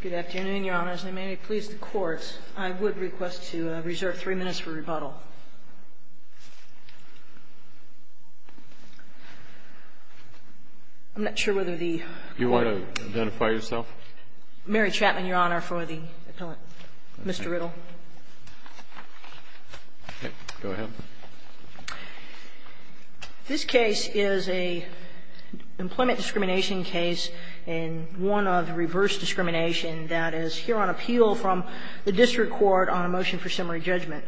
Good afternoon, Your Honor. As they may please the Court, I would request to reserve three minutes for rebuttal. I'm not sure whether the... Do you want to identify yourself? Mary Chapman, Your Honor, for the appellant. Mr. Riddle. Go ahead. This case is an employment discrimination case and one of reverse discrimination that is here on appeal from the district court on a motion for summary judgment.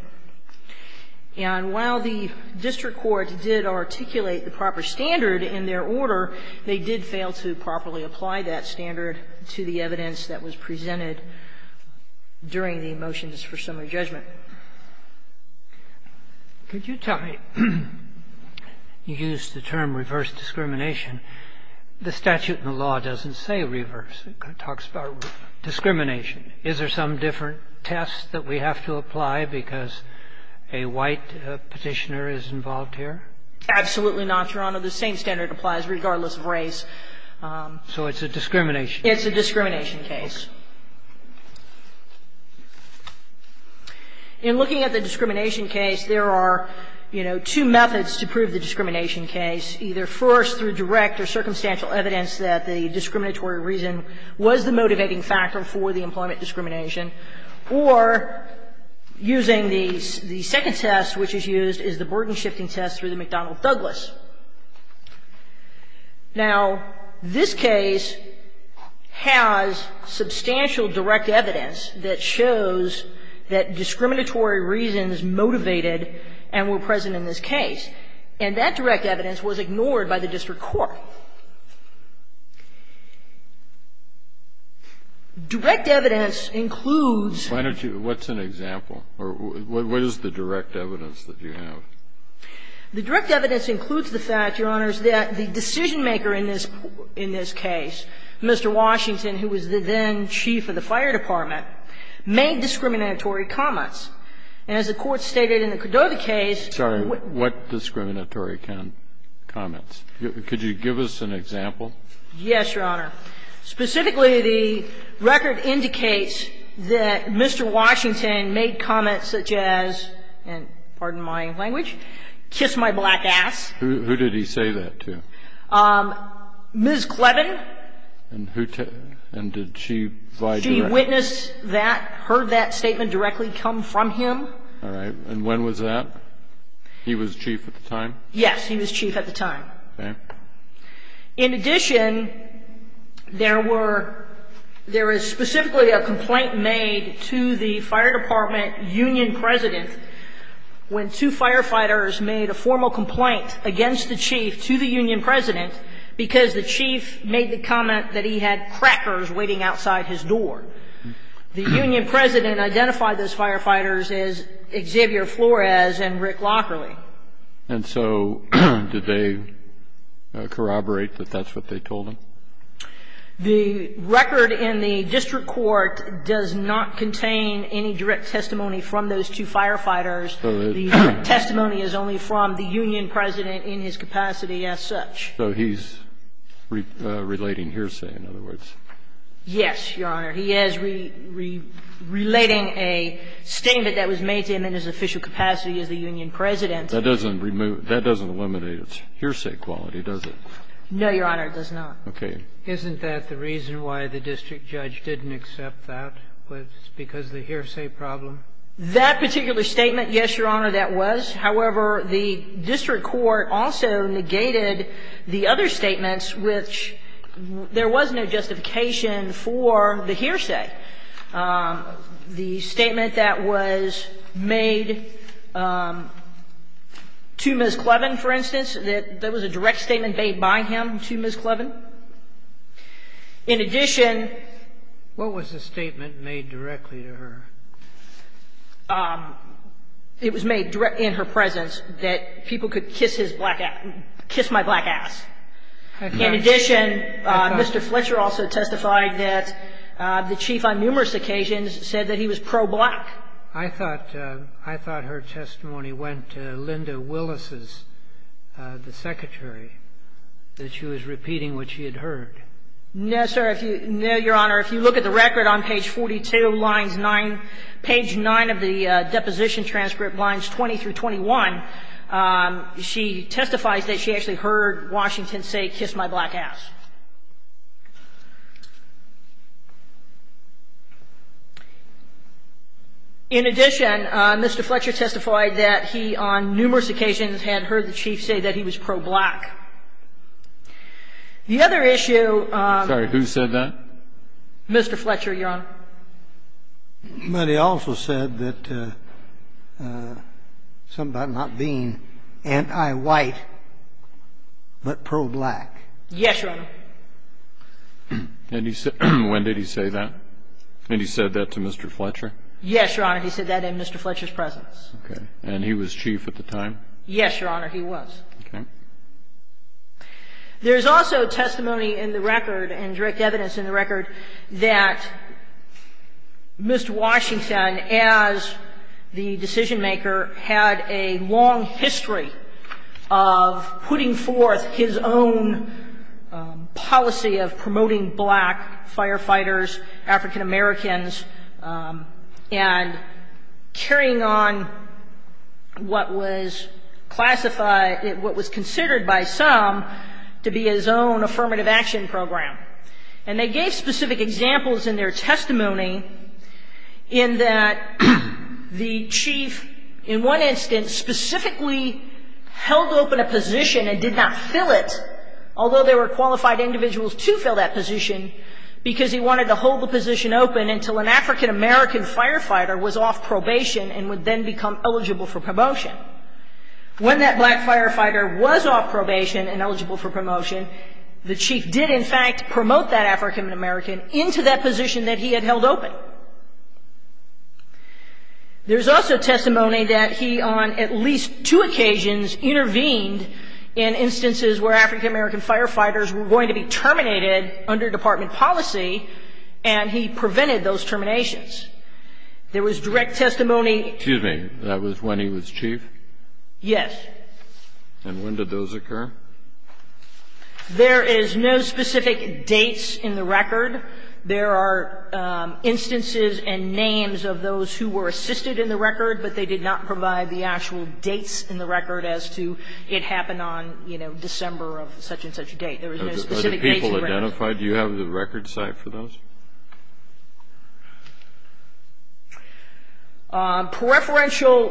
And while the district court did articulate the proper standard in their order, they did fail to properly apply that standard to the evidence that was presented during the motions for summary judgment. Could you tell me, you used the term reverse discrimination. The statute in the law doesn't say reverse. It talks about discrimination. Is there some different test that we have to apply because a white petitioner is involved here? Absolutely not, Your Honor. The same standard applies regardless of race. So it's a discrimination case. It's a discrimination case. In looking at the discrimination case, there are, you know, two methods to prove the discrimination case, either first through direct or circumstantial evidence that the discriminatory reason was the motivating factor for the employment discrimination, or using the second test, which is used as the burden-shifting test through the McDonnell-Douglas. Now, this case has substantial direct evidence that shows that discriminatory reasons motivated and were present in this case. And that direct evidence was ignored by the district court. Direct evidence includes. Why don't you – what's an example? Or what is the direct evidence that you have? The direct evidence includes the fact, Your Honors, that the decision-maker in this case, Mr. Washington, who was the then chief of the fire department, made discriminatory comments. And as the Court stated in the Cordova case – Sorry. What discriminatory comments? Could you give us an example? Yes, Your Honor. Specifically, the record indicates that Mr. Washington made comments such as – and I'm going to use the word in my language – kiss my black ass. Who did he say that to? Ms. Clevin. And who – and did she vie directly? She witnessed that, heard that statement directly come from him. All right. And when was that? He was chief at the time? Yes. He was chief at the time. Okay. In addition, there were – there is specifically a complaint made to the fire department union president when two firefighters made a formal complaint against the chief to the union president because the chief made the comment that he had crackers waiting outside his door. The union president identified those firefighters as Xavier Flores and Rick Lockerley. And so did they corroborate that that's what they told him? The record in the district court does not contain any direct testimony from those two firefighters. The testimony is only from the union president in his capacity as such. So he's relating hearsay, in other words. Yes, Your Honor. He is relating a statement that was made to him in his official capacity as the union president. That doesn't remove – that doesn't eliminate his hearsay quality, does it? No, Your Honor, it does not. Okay. Isn't that the reason why the district judge didn't accept that, was because of the hearsay problem? That particular statement, yes, Your Honor, that was. However, the district court also negated the other statements, which there was no justification for the hearsay. The statement that was made to Ms. Clevin, for instance, that there was a direct statement made by him to Ms. Clevin. In addition – What was the statement made directly to her? It was made in her presence that people could kiss his black – kiss my black ass. In addition, Mr. Fletcher also testified that the chief on numerous occasions said that he was pro-black. I thought – I thought her testimony went to Linda Willis's, the secretary, that she was repeating what she had heard. No, sir. If you – no, Your Honor. If you look at the record on page 42, lines 9 – page 9 of the deposition transcript, lines 20 through 21, she testifies that she actually heard Washington say, In addition, Mr. Fletcher testified that he on numerous occasions had heard the chief say that he was pro-black. The other issue – Sorry. Who said that? Mr. Fletcher, Your Honor. But he also said that – something about not being anti-white, but pro-black. Yes, Your Honor. And he – when did he say that? And he said that to Mr. Fletcher? Yes, Your Honor. He said that in Mr. Fletcher's presence. Okay. And he was chief at the time? Yes, Your Honor, he was. Okay. There's also testimony in the record and direct evidence in the record that Mr. Fletcher had a strong policy of promoting black firefighters, African Americans, and carrying on what was classified – what was considered by some to be his own affirmative action program. And they gave specific examples in their testimony in that the chief, in one instance, held open a position and did not fill it, although there were qualified individuals to fill that position, because he wanted to hold the position open until an African American firefighter was off probation and would then become eligible for promotion. When that black firefighter was off probation and eligible for promotion, the chief did, in fact, promote that African American into that position that he had held open. There's also testimony that he, on at least two occasions, intervened in instances where African American firefighters were going to be terminated under department policy, and he prevented those terminations. There was direct testimony – Excuse me. That was when he was chief? Yes. And when did those occur? There is no specific dates in the record. There are instances and names of those who were assisted in the record, but they did not provide the actual dates in the record as to it happened on, you know, December of such and such a date. There was no specific dates. Are the people identified? Do you have the record site for those? Preferential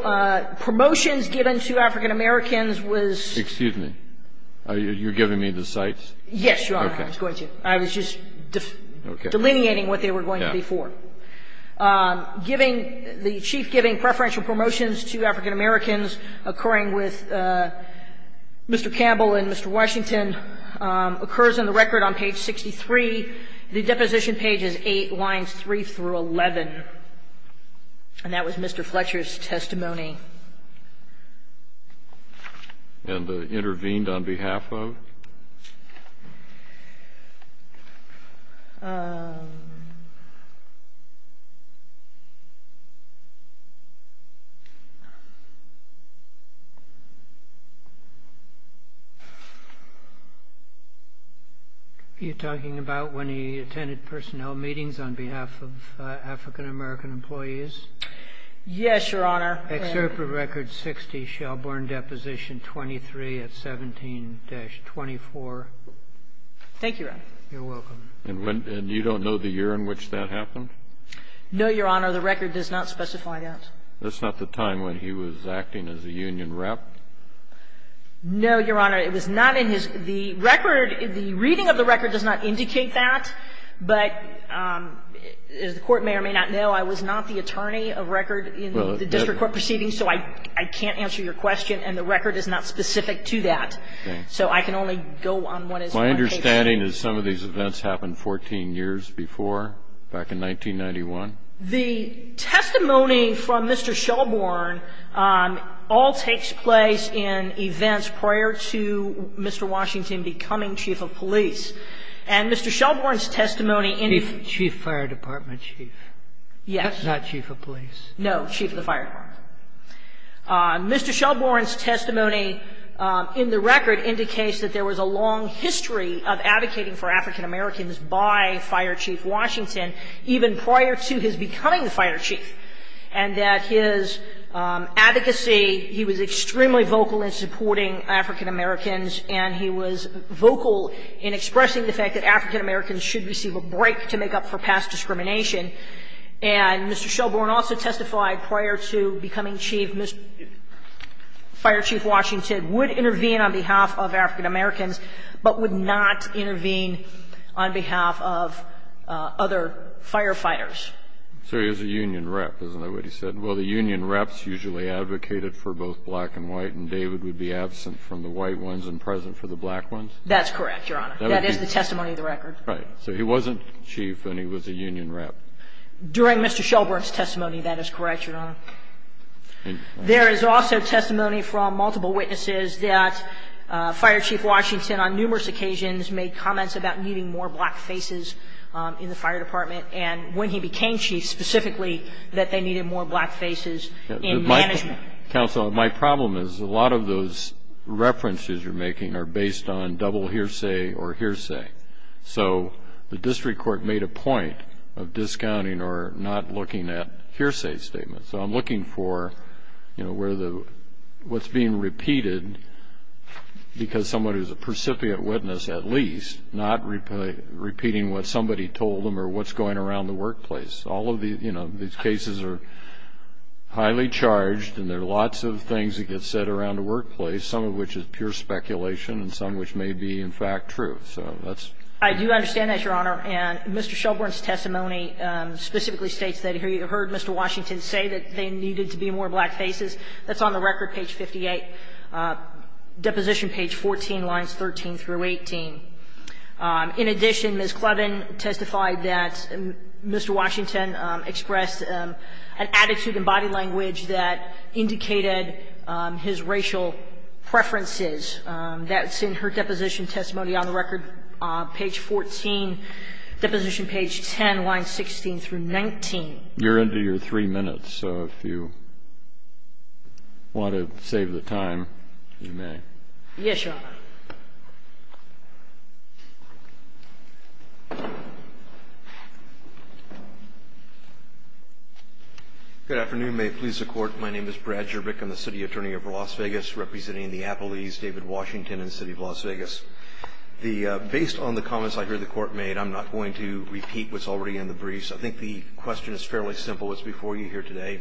promotions given to African Americans was – Excuse me. Are you giving me the sites? Yes, Your Honor. I was going to. I was just delineating what they were going to be for. Giving – the chief giving preferential promotions to African Americans occurring with Mr. Campbell and Mr. Washington occurs in the record on page 63. The deposition page is 8, lines 3 through 11. And that was Mr. Fletcher's testimony. And intervened on behalf of? Are you talking about when he attended personnel meetings on behalf of African American employees? Yes, Your Honor. Excerpt from Record 60, Shelbourne Deposition 23 at 17-24. Thank you, Your Honor. You're welcome. And you don't know the year in which that happened? No, Your Honor. The record does not specify that. That's not the time when he was acting as a union rep? No, Your Honor. It was not in his – the record, the reading of the record does not indicate that, but as the Court may or may not know, I was not the attorney of record in the district court proceeding, so I can't answer your question. And the record is not specific to that. So I can only go on what is on page 63. My understanding is some of these events happened 14 years before, back in 1991? The testimony from Mr. Shelbourne all takes place in events prior to Mr. Washington becoming chief of police. And Mr. Shelbourne's testimony in the – Chief fire department chief. Yes. Not chief of police. No, chief of the fire department. Mr. Shelbourne's testimony in the record indicates that there was a long history of advocating for African Americans by Fire Chief Washington, even prior to his becoming fire chief, and that his advocacy, he was extremely vocal in supporting African Americans, and he was vocal in expressing the fact that African Americans should receive a break to make up for past discrimination. And Mr. Shelbourne also testified prior to becoming chief, Mr. Fire Chief Washington would intervene on behalf of African Americans, but would not intervene on behalf of other firefighters. So he was a union rep. Isn't that what he said? Well, the union reps usually advocated for both black and white, and David would be absent from the white ones and present for the black ones? That's correct, Your Honor. That is the testimony of the record. Right. So he wasn't chief and he was a union rep. During Mr. Shelbourne's testimony, that is correct, Your Honor. There is also testimony from multiple witnesses that Fire Chief Washington on numerous occasions made comments about needing more black faces in the fire department, and when he became chief, specifically, that they needed more black faces in management. Counsel, my problem is a lot of those references you're making are based on double hearsay or hearsay. So the district court made a point of discounting or not looking at hearsay statements. So I'm looking for, you know, what's being repeated because someone who's a precipitate witness, at least, not repeating what somebody told them or what's going around the workplace. All of these cases are highly charged and there are lots of things that get said around the workplace, some of which is pure speculation and some which may be, in fact, true. So that's. I do understand that, Your Honor. And Mr. Shelbourne's testimony specifically states that he heard Mr. Washington say that there needed to be more black faces. That's on the record, page 58. Deposition page 14, lines 13 through 18. In addition, Ms. Clevin testified that Mr. Washington expressed an attitude and body language that indicated his racial preferences. That's in her deposition testimony on the record, page 14. Deposition page 10, lines 16 through 19. You're into your three minutes, so if you want to save the time, you may. Yes, Your Honor. Good afternoon. May it please the Court. My name is Brad Jerbik. I'm the City Attorney of Las Vegas, representing the Appellees, David Washington and the City of Las Vegas. Based on the comments I heard the Court made, I'm not going to repeat what's already in the briefs. I think the question is fairly simple. It's before you here today.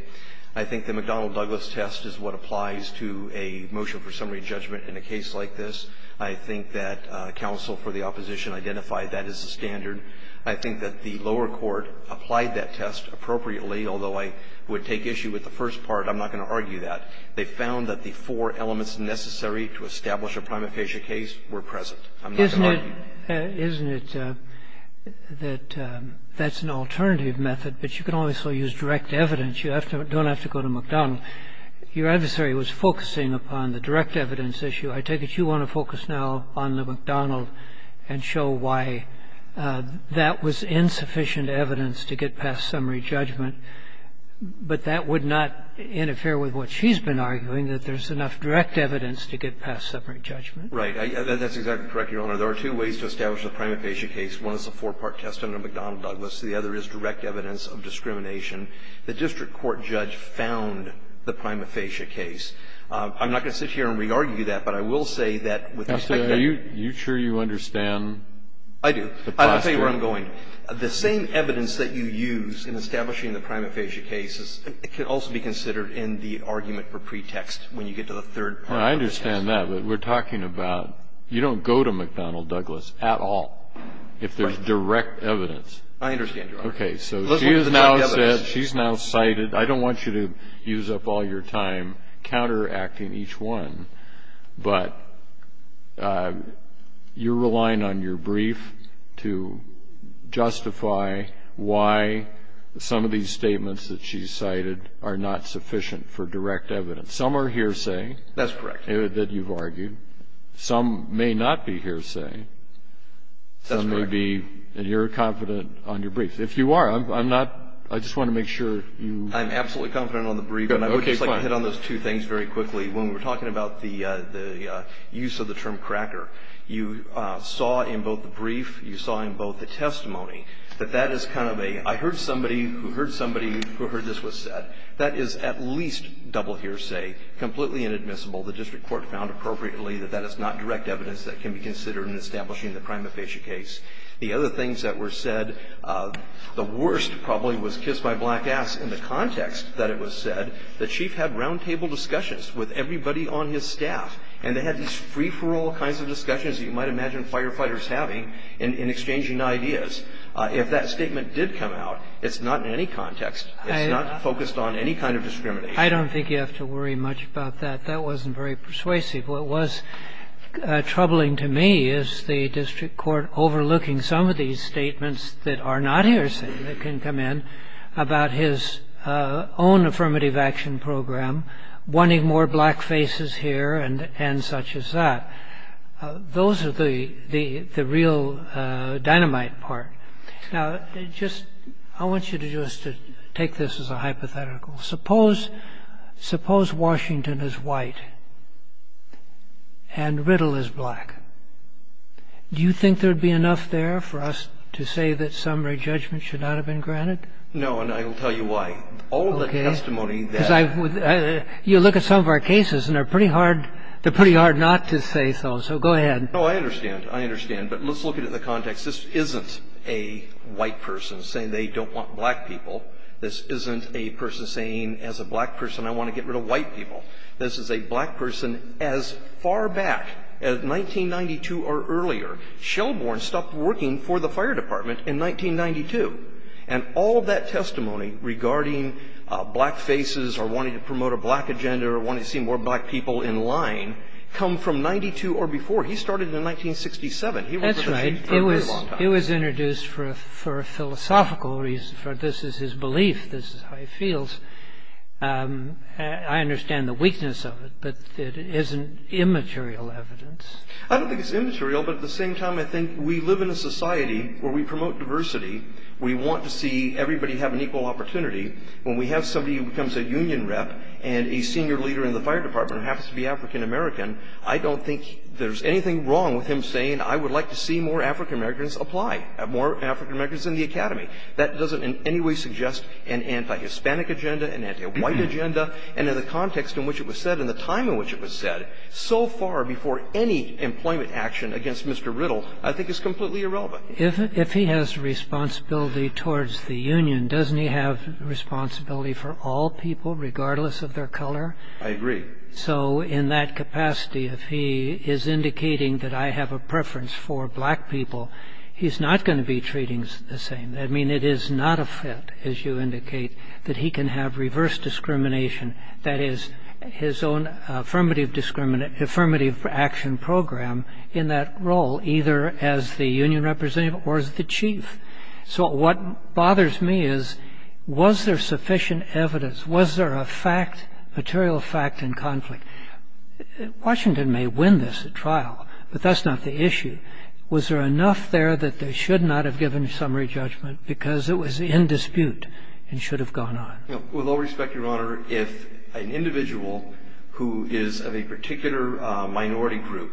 I think the McDonnell-Douglas test is what applies to a motion for summary judgment in a case like this. I think that counsel for the opposition identified that as the standard. I think that the lower court applied that test appropriately, although I would take the issue with the first part. I'm not going to argue that. They found that the four elements necessary to establish a prima facie case were present. I'm not going to argue that. Isn't it that that's an alternative method, but you can also use direct evidence. You don't have to go to McDonnell. Your adversary was focusing upon the direct evidence issue. I take it you want to focus now on the McDonnell and show why that was insufficient evidence to get past summary judgment. But that would not interfere with what she's been arguing, that there's enough direct evidence to get past summary judgment. Right. That's exactly correct, Your Honor. There are two ways to establish a prima facie case. One is the four-part test under McDonnell-Douglas. The other is direct evidence of discrimination. The district court judge found the prima facie case. I'm not going to sit here and re-argue that, but I will say that with respect to the other. Are you sure you understand the posture? I do. I'll tell you where I'm going. The same evidence that you use in establishing the prima facie case can also be considered in the argument for pretext when you get to the third part of the test. I understand that, but we're talking about you don't go to McDonnell-Douglas at all if there's direct evidence. I understand, Your Honor. Okay. So she has now said, she's now cited. I don't want you to use up all your time counteracting each one, but you're relying on your brief to justify why some of these statements that she's cited are not sufficient for direct evidence. Some are hearsay. That's correct. That you've argued. Some may not be hearsay. That's correct. Some may be, and you're confident on your brief. If you are, I'm not, I just want to make sure you. I'm absolutely confident on the brief, and I would just like to hit on those two things very quickly. When we were talking about the use of the term cracker, you saw in both the brief, you saw in both the testimony, that that is kind of a, I heard somebody who heard somebody who heard this was said. That is at least double hearsay, completely inadmissible. The district court found appropriately that that is not direct evidence that can be considered in establishing the prima facie case. The other things that were said, the worst probably was kissed my black ass in the context that it was said. The chief had roundtable discussions with everybody on his staff, and they had these free-for-all kinds of discussions that you might imagine firefighters having in exchanging ideas. If that statement did come out, it's not in any context. It's not focused on any kind of discrimination. I don't think you have to worry much about that. That wasn't very persuasive. What was troubling to me is the district court overlooking some of these statements that are not hearsay that can come in about his own affirmative action program, wanting more black faces here and such as that. Those are the real dynamite part. Now, I want you to just take this as a hypothetical. Suppose Washington is white and Riddle is black. Do you think there would be enough there for us to say that summary judgment should not have been granted? No, and I will tell you why. Okay. All the testimony that you look at some of our cases, and they're pretty hard not to say so. So go ahead. No, I understand. I understand. But let's look at it in the context. This isn't a white person saying they don't want black people. This isn't a person saying as a black person I want to get rid of white people. This is a black person as far back as 1992 or earlier. Shelbourne stopped working for the fire department in 1992. And all of that testimony regarding black faces or wanting to promote a black agenda or wanting to see more black people in line come from 1992 or before. He started in 1967. He was with us for a very long time. That's right. He was introduced for a philosophical reason. This is his belief. This is how he feels. I understand the weakness of it, but it isn't immaterial evidence. I don't think it's immaterial. But at the same time, I think we live in a society where we promote diversity. We want to see everybody have an equal opportunity. When we have somebody who becomes a union rep and a senior leader in the fire department who happens to be African-American, I don't think there's anything wrong with him saying, I would like to see more African-Americans apply, more African-Americans in the academy. That doesn't in any way suggest an anti-Hispanic agenda, an anti-white agenda. And in the context in which it was said, in the time in which it was said, so far before any employment action against Mr. Riddle, I think it's completely irrelevant. If he has responsibility towards the union, doesn't he have responsibility for all people, regardless of their color? I agree. So in that capacity, if he is indicating that I have a preference for black people, he's not going to be treating us the same. I mean, it is not a fit, as you indicate, that he can have reverse discrimination. That is, his own affirmative action program in that role, either as the union representative or as the chief. So what bothers me is, was there sufficient evidence? Was there a fact, material fact, in conflict? Washington may win this trial, but that's not the issue. Was there enough there that they should not have given summary judgment because it was in dispute and should have gone on? With all respect, Your Honor, if an individual who is of a particular minority group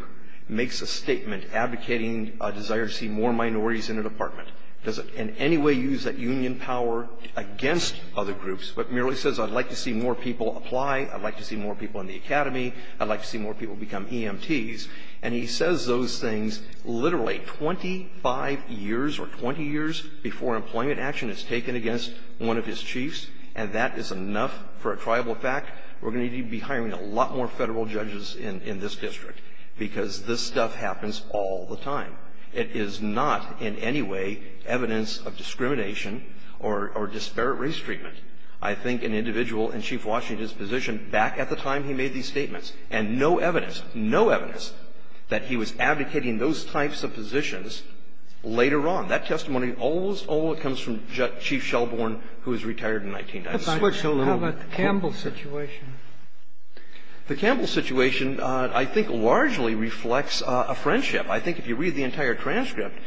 makes a statement advocating a desire to see more minorities in a department, does it in any way use that union power against other groups but merely says, I'd like to see more people apply, I'd like to see more people in the academy, I'd like to see more people become EMTs? And he says those things literally 25 years or 20 years before employment action is taken against one of his chiefs, and that is enough for a triable fact? We're going to need to be hiring a lot more Federal judges in this district because this stuff happens all the time. It is not in any way evidence of discrimination or disparate race treatment. I think an individual in Chief Washington's position back at the time he made these that he was advocating those types of positions later on. That testimony, all of it comes from Chief Shelbourne, who is retired in 1996. How about the Campbell situation? The Campbell situation, I think, largely reflects a friendship. I think if you read the entire transcript,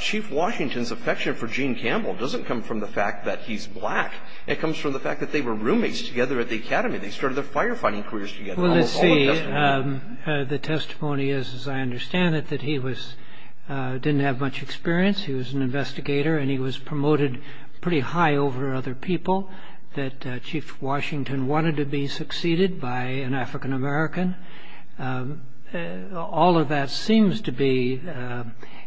Chief Washington's affection for Gene Campbell doesn't come from the fact that he's black. It comes from the fact that they were roommates together at the academy. They started their firefighting careers together. Well, let's see. The testimony is, as I understand it, that he didn't have much experience. He was an investigator, and he was promoted pretty high over other people, that Chief Washington wanted to be succeeded by an African-American. All of that seems to be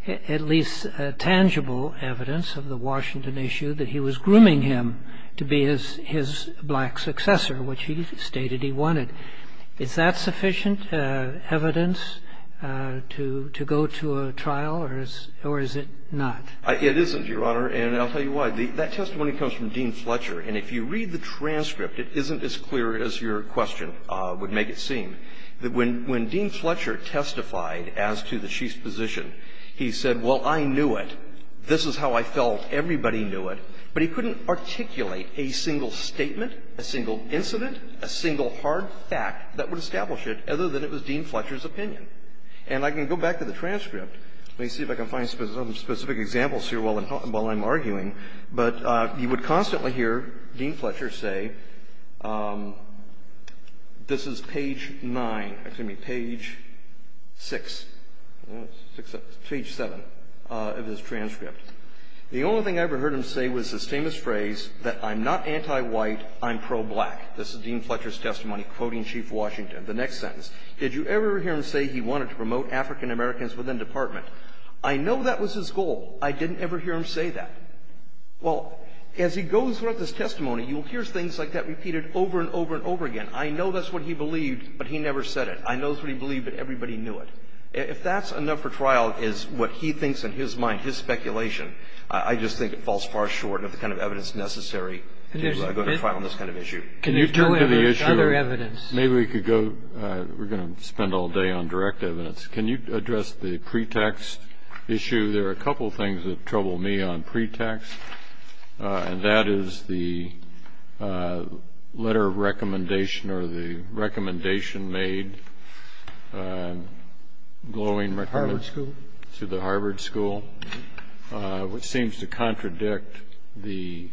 at least tangible evidence of the Washington issue, that he was grooming him to be his black successor, which he stated he wanted. Is that sufficient evidence to go to a trial, or is it not? It isn't, Your Honor, and I'll tell you why. That testimony comes from Dean Fletcher, and if you read the transcript, it isn't as clear as your question would make it seem. When Dean Fletcher testified as to the Chief's position, he said, well, I knew it. This is how I felt. Everybody knew it. But he couldn't articulate a single statement, a single incident, a single hard fact that would establish it, other than it was Dean Fletcher's opinion. And I can go back to the transcript. Let me see if I can find some specific examples here while I'm arguing. But you would constantly hear Dean Fletcher say, this is page 9. Excuse me, page 6, page 7 of his transcript. The only thing I ever heard him say was his famous phrase that I'm not anti-white, I'm pro-black. This is Dean Fletcher's testimony, quoting Chief Washington. The next sentence, did you ever hear him say he wanted to promote African Americans within department? I know that was his goal. I didn't ever hear him say that. Well, as he goes throughout this testimony, you'll hear things like that repeated over and over and over again. I know that's what he believed, but he never said it. I know that's what he believed, but everybody knew it. If that's enough for trial is what he thinks in his mind, his speculation, I just think it falls far short of the kind of evidence necessary to go to trial on this kind of issue. Can you turn to the issue of other evidence? Maybe we could go. We're going to spend all day on direct evidence. Can you address the pretext issue? There are a couple of things that trouble me on pretext, and that is the letter of recommendation or the recommendation made, glowing recommendation. Harvard School? To the Harvard School, which seems to contradict the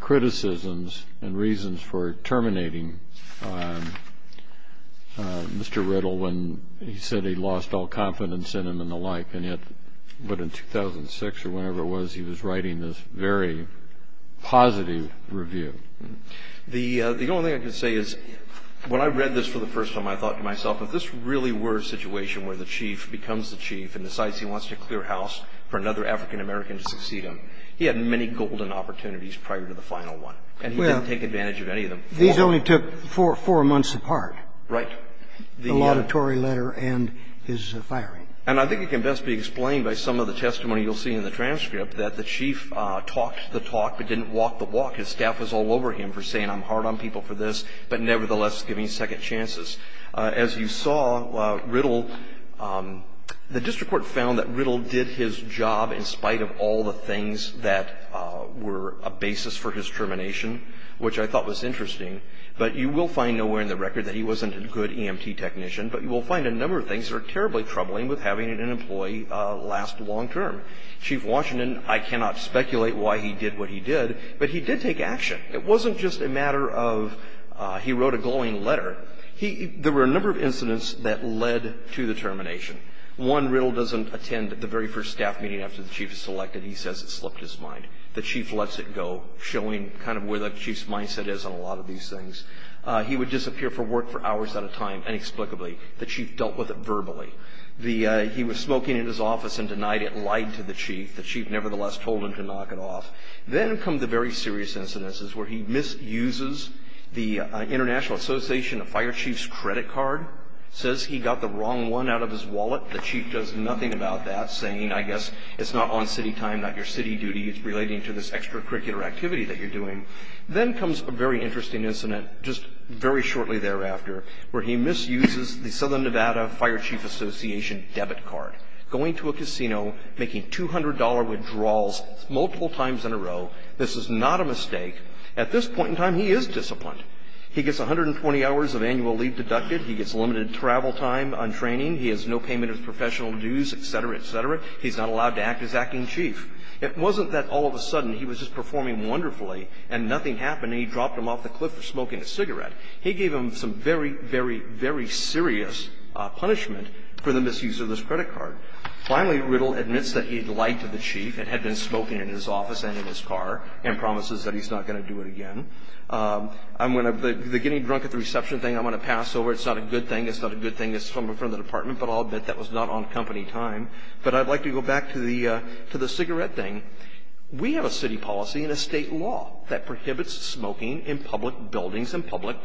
criticisms and reasons for terminating Mr. Riddle when he said he lost all confidence in him and the like. And yet, but in 2006 or whenever it was, he was writing this very positive review. The only thing I can say is when I read this for the first time, I thought to myself, if this really were a situation where the chief becomes the chief and decides he wants to clear house for another African-American to succeed him, he had many golden opportunities prior to the final one, and he didn't take advantage of any of them. These only took four months apart. Right. The auditory letter and his firing. And I think it can best be explained by some of the testimony you'll see in the transcript that the chief talked the talk but didn't walk the walk. His staff was all over him for saying, I'm hard on people for this, but nevertheless giving second chances. As you saw, Riddle, the district court found that Riddle did his job in spite of all the things that were a basis for his termination, which I thought was interesting. But you will find nowhere in the record that he wasn't a good EMT technician, but you will find a number of things that are terribly troubling with having an employee last long term. Chief Washington, I cannot speculate why he did what he did, but he did take action. It wasn't just a matter of he wrote a glowing letter. There were a number of incidents that led to the termination. One, Riddle doesn't attend the very first staff meeting after the chief is selected. He says it slipped his mind. The chief lets it go, showing kind of where the chief's mindset is on a lot of these things. He would disappear from work for hours at a time inexplicably. The chief dealt with it verbally. He was smoking in his office and denied it, lied to the chief. The chief nevertheless told him to knock it off. Then come the very serious incidences where he misuses the International Association of Fire Chiefs credit card, says he got the wrong one out of his wallet. The chief does nothing about that, saying, I guess it's not on city time, not your city duty. It's relating to this extracurricular activity that you're doing. Then comes a very interesting incident just very shortly thereafter where he goes to a casino making $200 withdrawals multiple times in a row. This is not a mistake. At this point in time, he is disciplined. He gets 120 hours of annual leave deducted. He gets limited travel time on training. He has no payment of professional dues, et cetera, et cetera. He's not allowed to act as acting chief. It wasn't that all of a sudden he was just performing wonderfully and nothing happened and he dropped him off the cliff for smoking a cigarette. He gave him some very, very, very serious punishment for the misuse of this credit card. Finally, Riddle admits that he lied to the chief and had been smoking in his office and in his car and promises that he's not going to do it again. The getting drunk at the reception thing, I'm going to pass over. It's not a good thing. It's not a good thing. It's from the department, but I'll admit that was not on company time. But I'd like to go back to the cigarette thing. We have a city policy and a state law that prohibits smoking in public buildings and public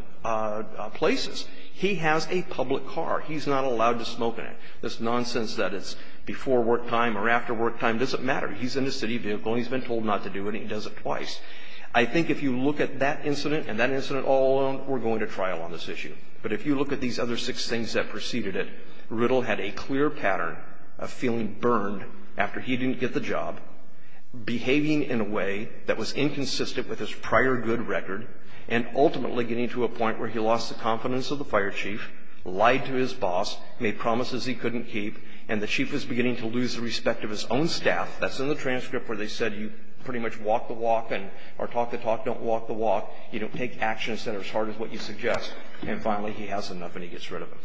places. He has a public car. He's not allowed to smoke in it. This nonsense that it's before work time or after work time doesn't matter. He's in a city vehicle and he's been told not to do it and he does it twice. I think if you look at that incident and that incident all alone, we're going to trial on this issue. But if you look at these other six things that preceded it, Riddle had a clear pattern of feeling burned after he didn't get the job, behaving in a way that was ultimately getting to a point where he lost the confidence of the fire chief, lied to his boss, made promises he couldn't keep, and the chief is beginning to lose the respect of his own staff. That's in the transcript where they said you pretty much walk the walk and or talk the talk, don't walk the walk. You don't take actions that are as hard as what you suggest. And finally, he has enough and he gets rid of it.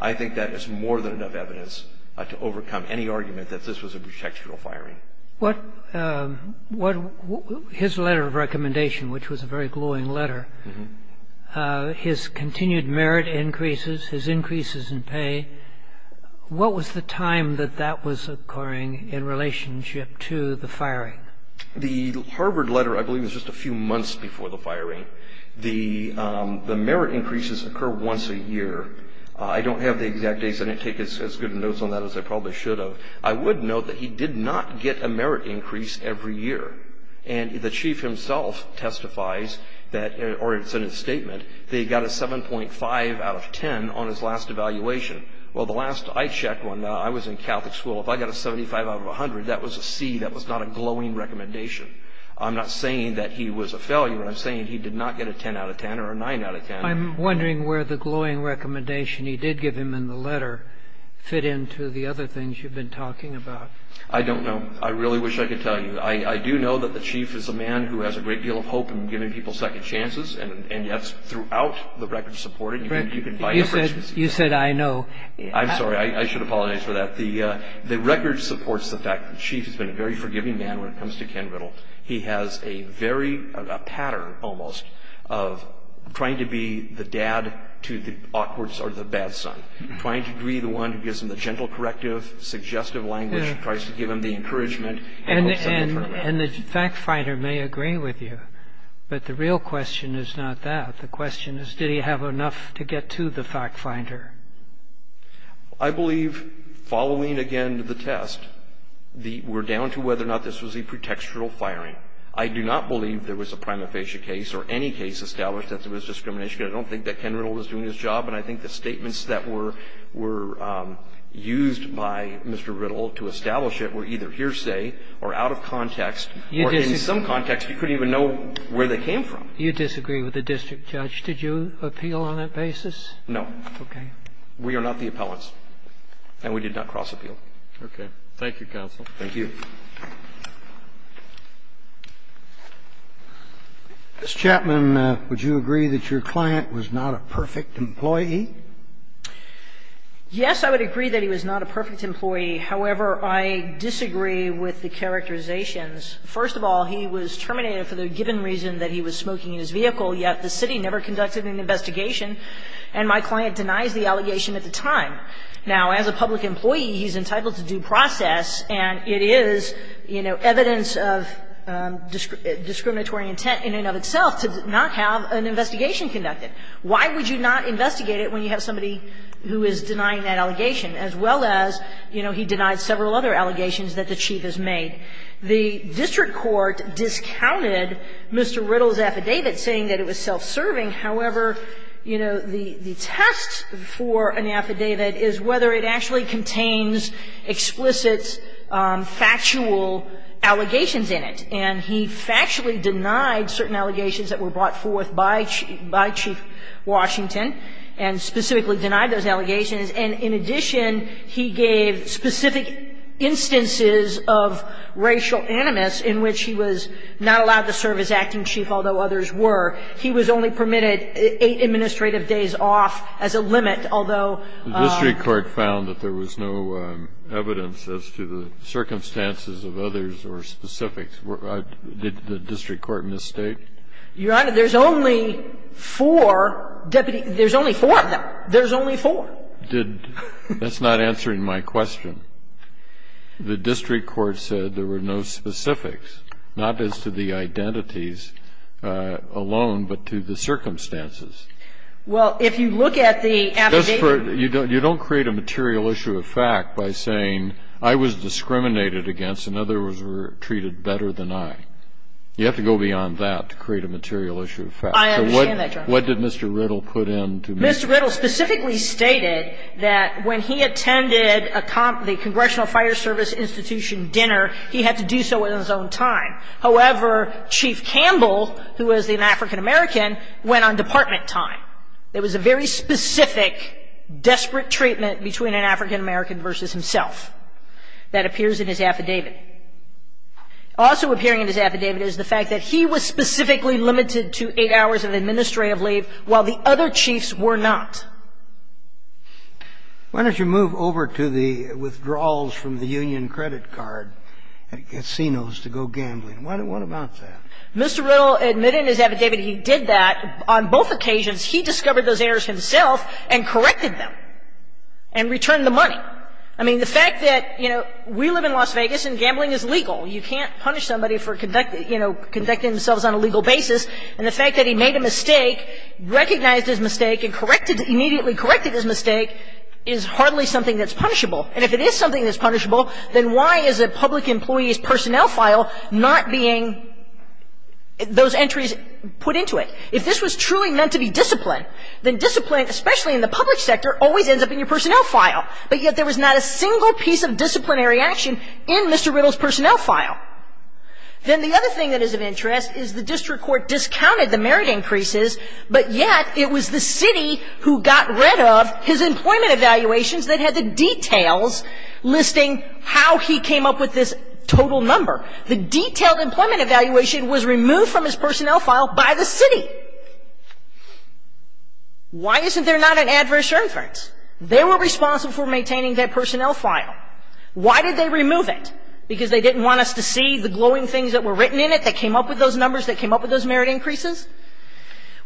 I think that is more than enough evidence to overcome any argument that this was a pretextual firing. His letter of recommendation, which was a very glowing letter, his continued merit increases, his increases in pay. What was the time that that was occurring in relationship to the firing? The Harvard letter, I believe, was just a few months before the firing. The merit increases occur once a year. I don't have the exact dates. I didn't take as good a note on that as I probably should have. I would note that he did not get a merit increase every year. And the chief himself testifies, or it's in his statement, that he got a 7.5 out of 10 on his last evaluation. Well, the last I checked when I was in Catholic school, if I got a 75 out of 100, that was a C. That was not a glowing recommendation. I'm not saying that he was a failure. I'm saying he did not get a 10 out of 10 or a 9 out of 10. I'm wondering where the glowing recommendation he did give him in the letter fit into the other things you've been talking about. I don't know. I really wish I could tell you. I do know that the chief is a man who has a great deal of hope in giving people second chances. And that's throughout the record supported. You can find it. You said, I know. I'm sorry. I should apologize for that. The record supports the fact that the chief has been a very forgiving man when it comes to Ken Riddle. He has a pattern, almost, of trying to be the dad to the awkward or the bad son, trying to be the one who gives him the gentle corrective, suggestive language, tries to give him the encouragement. And the fact finder may agree with you. But the real question is not that. The question is, did he have enough to get to the fact finder? I believe, following, again, the test, we're down to whether or not this was a pretextual firing. I do not believe there was a prima facie case or any case established that there was discrimination. I don't think that Ken Riddle was doing his job. And I think the statements that were used by Mr. Riddle to establish it were either hearsay or out of context or, in some context, you couldn't even know where they came from. You disagree with the district judge. Did you appeal on that basis? No. Okay. We are not the appellants. And we did not cross-appeal. Okay. Thank you, counsel. Thank you. Mr. Chapman, would you agree that your client was not a perfect employee? Yes, I would agree that he was not a perfect employee. However, I disagree with the characterizations. First of all, he was terminated for the given reason that he was smoking in his vehicle, yet the city never conducted an investigation, and my client denies the allegation at the time. Now, as a public employee, he's entitled to due process, and it is, you know, evidence of discriminatory intent in and of itself to not have an investigation conducted. Why would you not investigate it when you have somebody who is denying that allegation, as well as, you know, he denied several other allegations that the chief has made? The district court discounted Mr. Riddle's affidavit, saying that it was self-serving. However, you know, the test for an affidavit is whether it actually contains explicit, factual allegations in it. And he factually denied certain allegations that were brought forth by Chief Washington and specifically denied those allegations. And in addition, he gave specific instances of racial animus in which he was not allowed to serve as acting chief, although others were. He was only permitted eight administrative days off as a limit, although the district court found that there was no evidence as to the circumstances of others or specifics. Did the district court misstate? Your Honor, there's only four deputy – there's only four of them. There's only four. Did – that's not answering my question. The district court said there were no specifics, not as to the identities alone, but to the circumstances. Well, if you look at the affidavit – Just for – you don't create a material issue of fact by saying I was discriminated against and others were treated better than I. You have to go beyond that to create a material issue of fact. I understand that, Your Honor. So what did Mr. Riddle put in to make – Mr. Riddle specifically stated that when he attended a – the Congressional Fire Service Institution dinner, he had to do so in his own time. However, Chief Campbell, who was an African-American, went on department time. There was a very specific, desperate treatment between an African-American versus himself. That appears in his affidavit. Also appearing in his affidavit is the fact that he was specifically limited to eight hours of administrative leave while the other chiefs were not. Why don't you move over to the withdrawals from the union credit card at casinos to go gambling? What about that? Mr. Riddle admitted in his affidavit he did that on both occasions. He discovered those errors himself and corrected them and returned the money. I mean, the fact that, you know, we live in Las Vegas and gambling is legal. You can't punish somebody for conducting – you know, conducting themselves on a legal basis. And the fact that he made a mistake, recognized his mistake, and corrected – immediately corrected his mistake is hardly something that's punishable. And if it is something that's punishable, then why is it public employees' personnel file not being – those entries put into it? If this was truly meant to be discipline, then discipline, especially in the public sector, always ends up in your personnel file. But yet there was not a single piece of disciplinary action in Mr. Riddle's personnel file. Then the other thing that is of interest is the district court discounted the merit increases, but yet it was the city who got rid of his employment evaluations that had the details listing how he came up with this total number. The detailed employment evaluation was removed from his personnel file by the city. Why isn't there not an adverse inference? They were responsible for maintaining that personnel file. Why did they remove it? Because they didn't want us to see the glowing things that were written in it that came up with those numbers, that came up with those merit increases?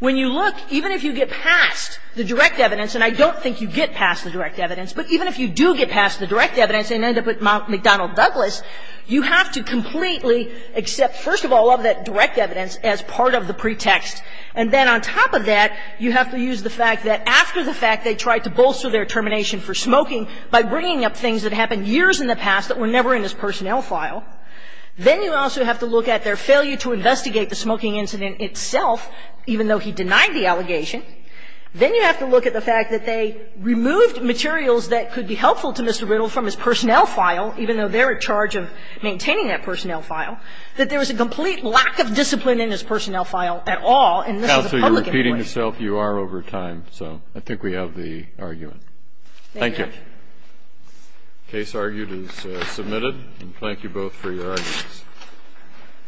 When you look, even if you get past the direct evidence, and I don't think you get past the direct evidence, but even if you do get past the direct evidence and end up at Mount McDonnell Douglas, you have to completely accept, first of all, all of that direct evidence as part of the pretext. And then on top of that, you have to use the fact that after the fact they tried to bolster their determination for smoking by bringing up things that happened years in the past that were never in his personnel file. Then you also have to look at their failure to investigate the smoking incident itself, even though he denied the allegation. Then you have to look at the fact that they removed materials that could be helpful to Mr. Riddle from his personnel file, even though they're in charge of maintaining that personnel file, that there was a complete lack of discipline in his personnel file at all, and this is a public inquiry. Kennedy, you're repeating yourself. You are over time, so I think we have the argument. Thank you. Case argued is submitted, and thank you both for your arguments.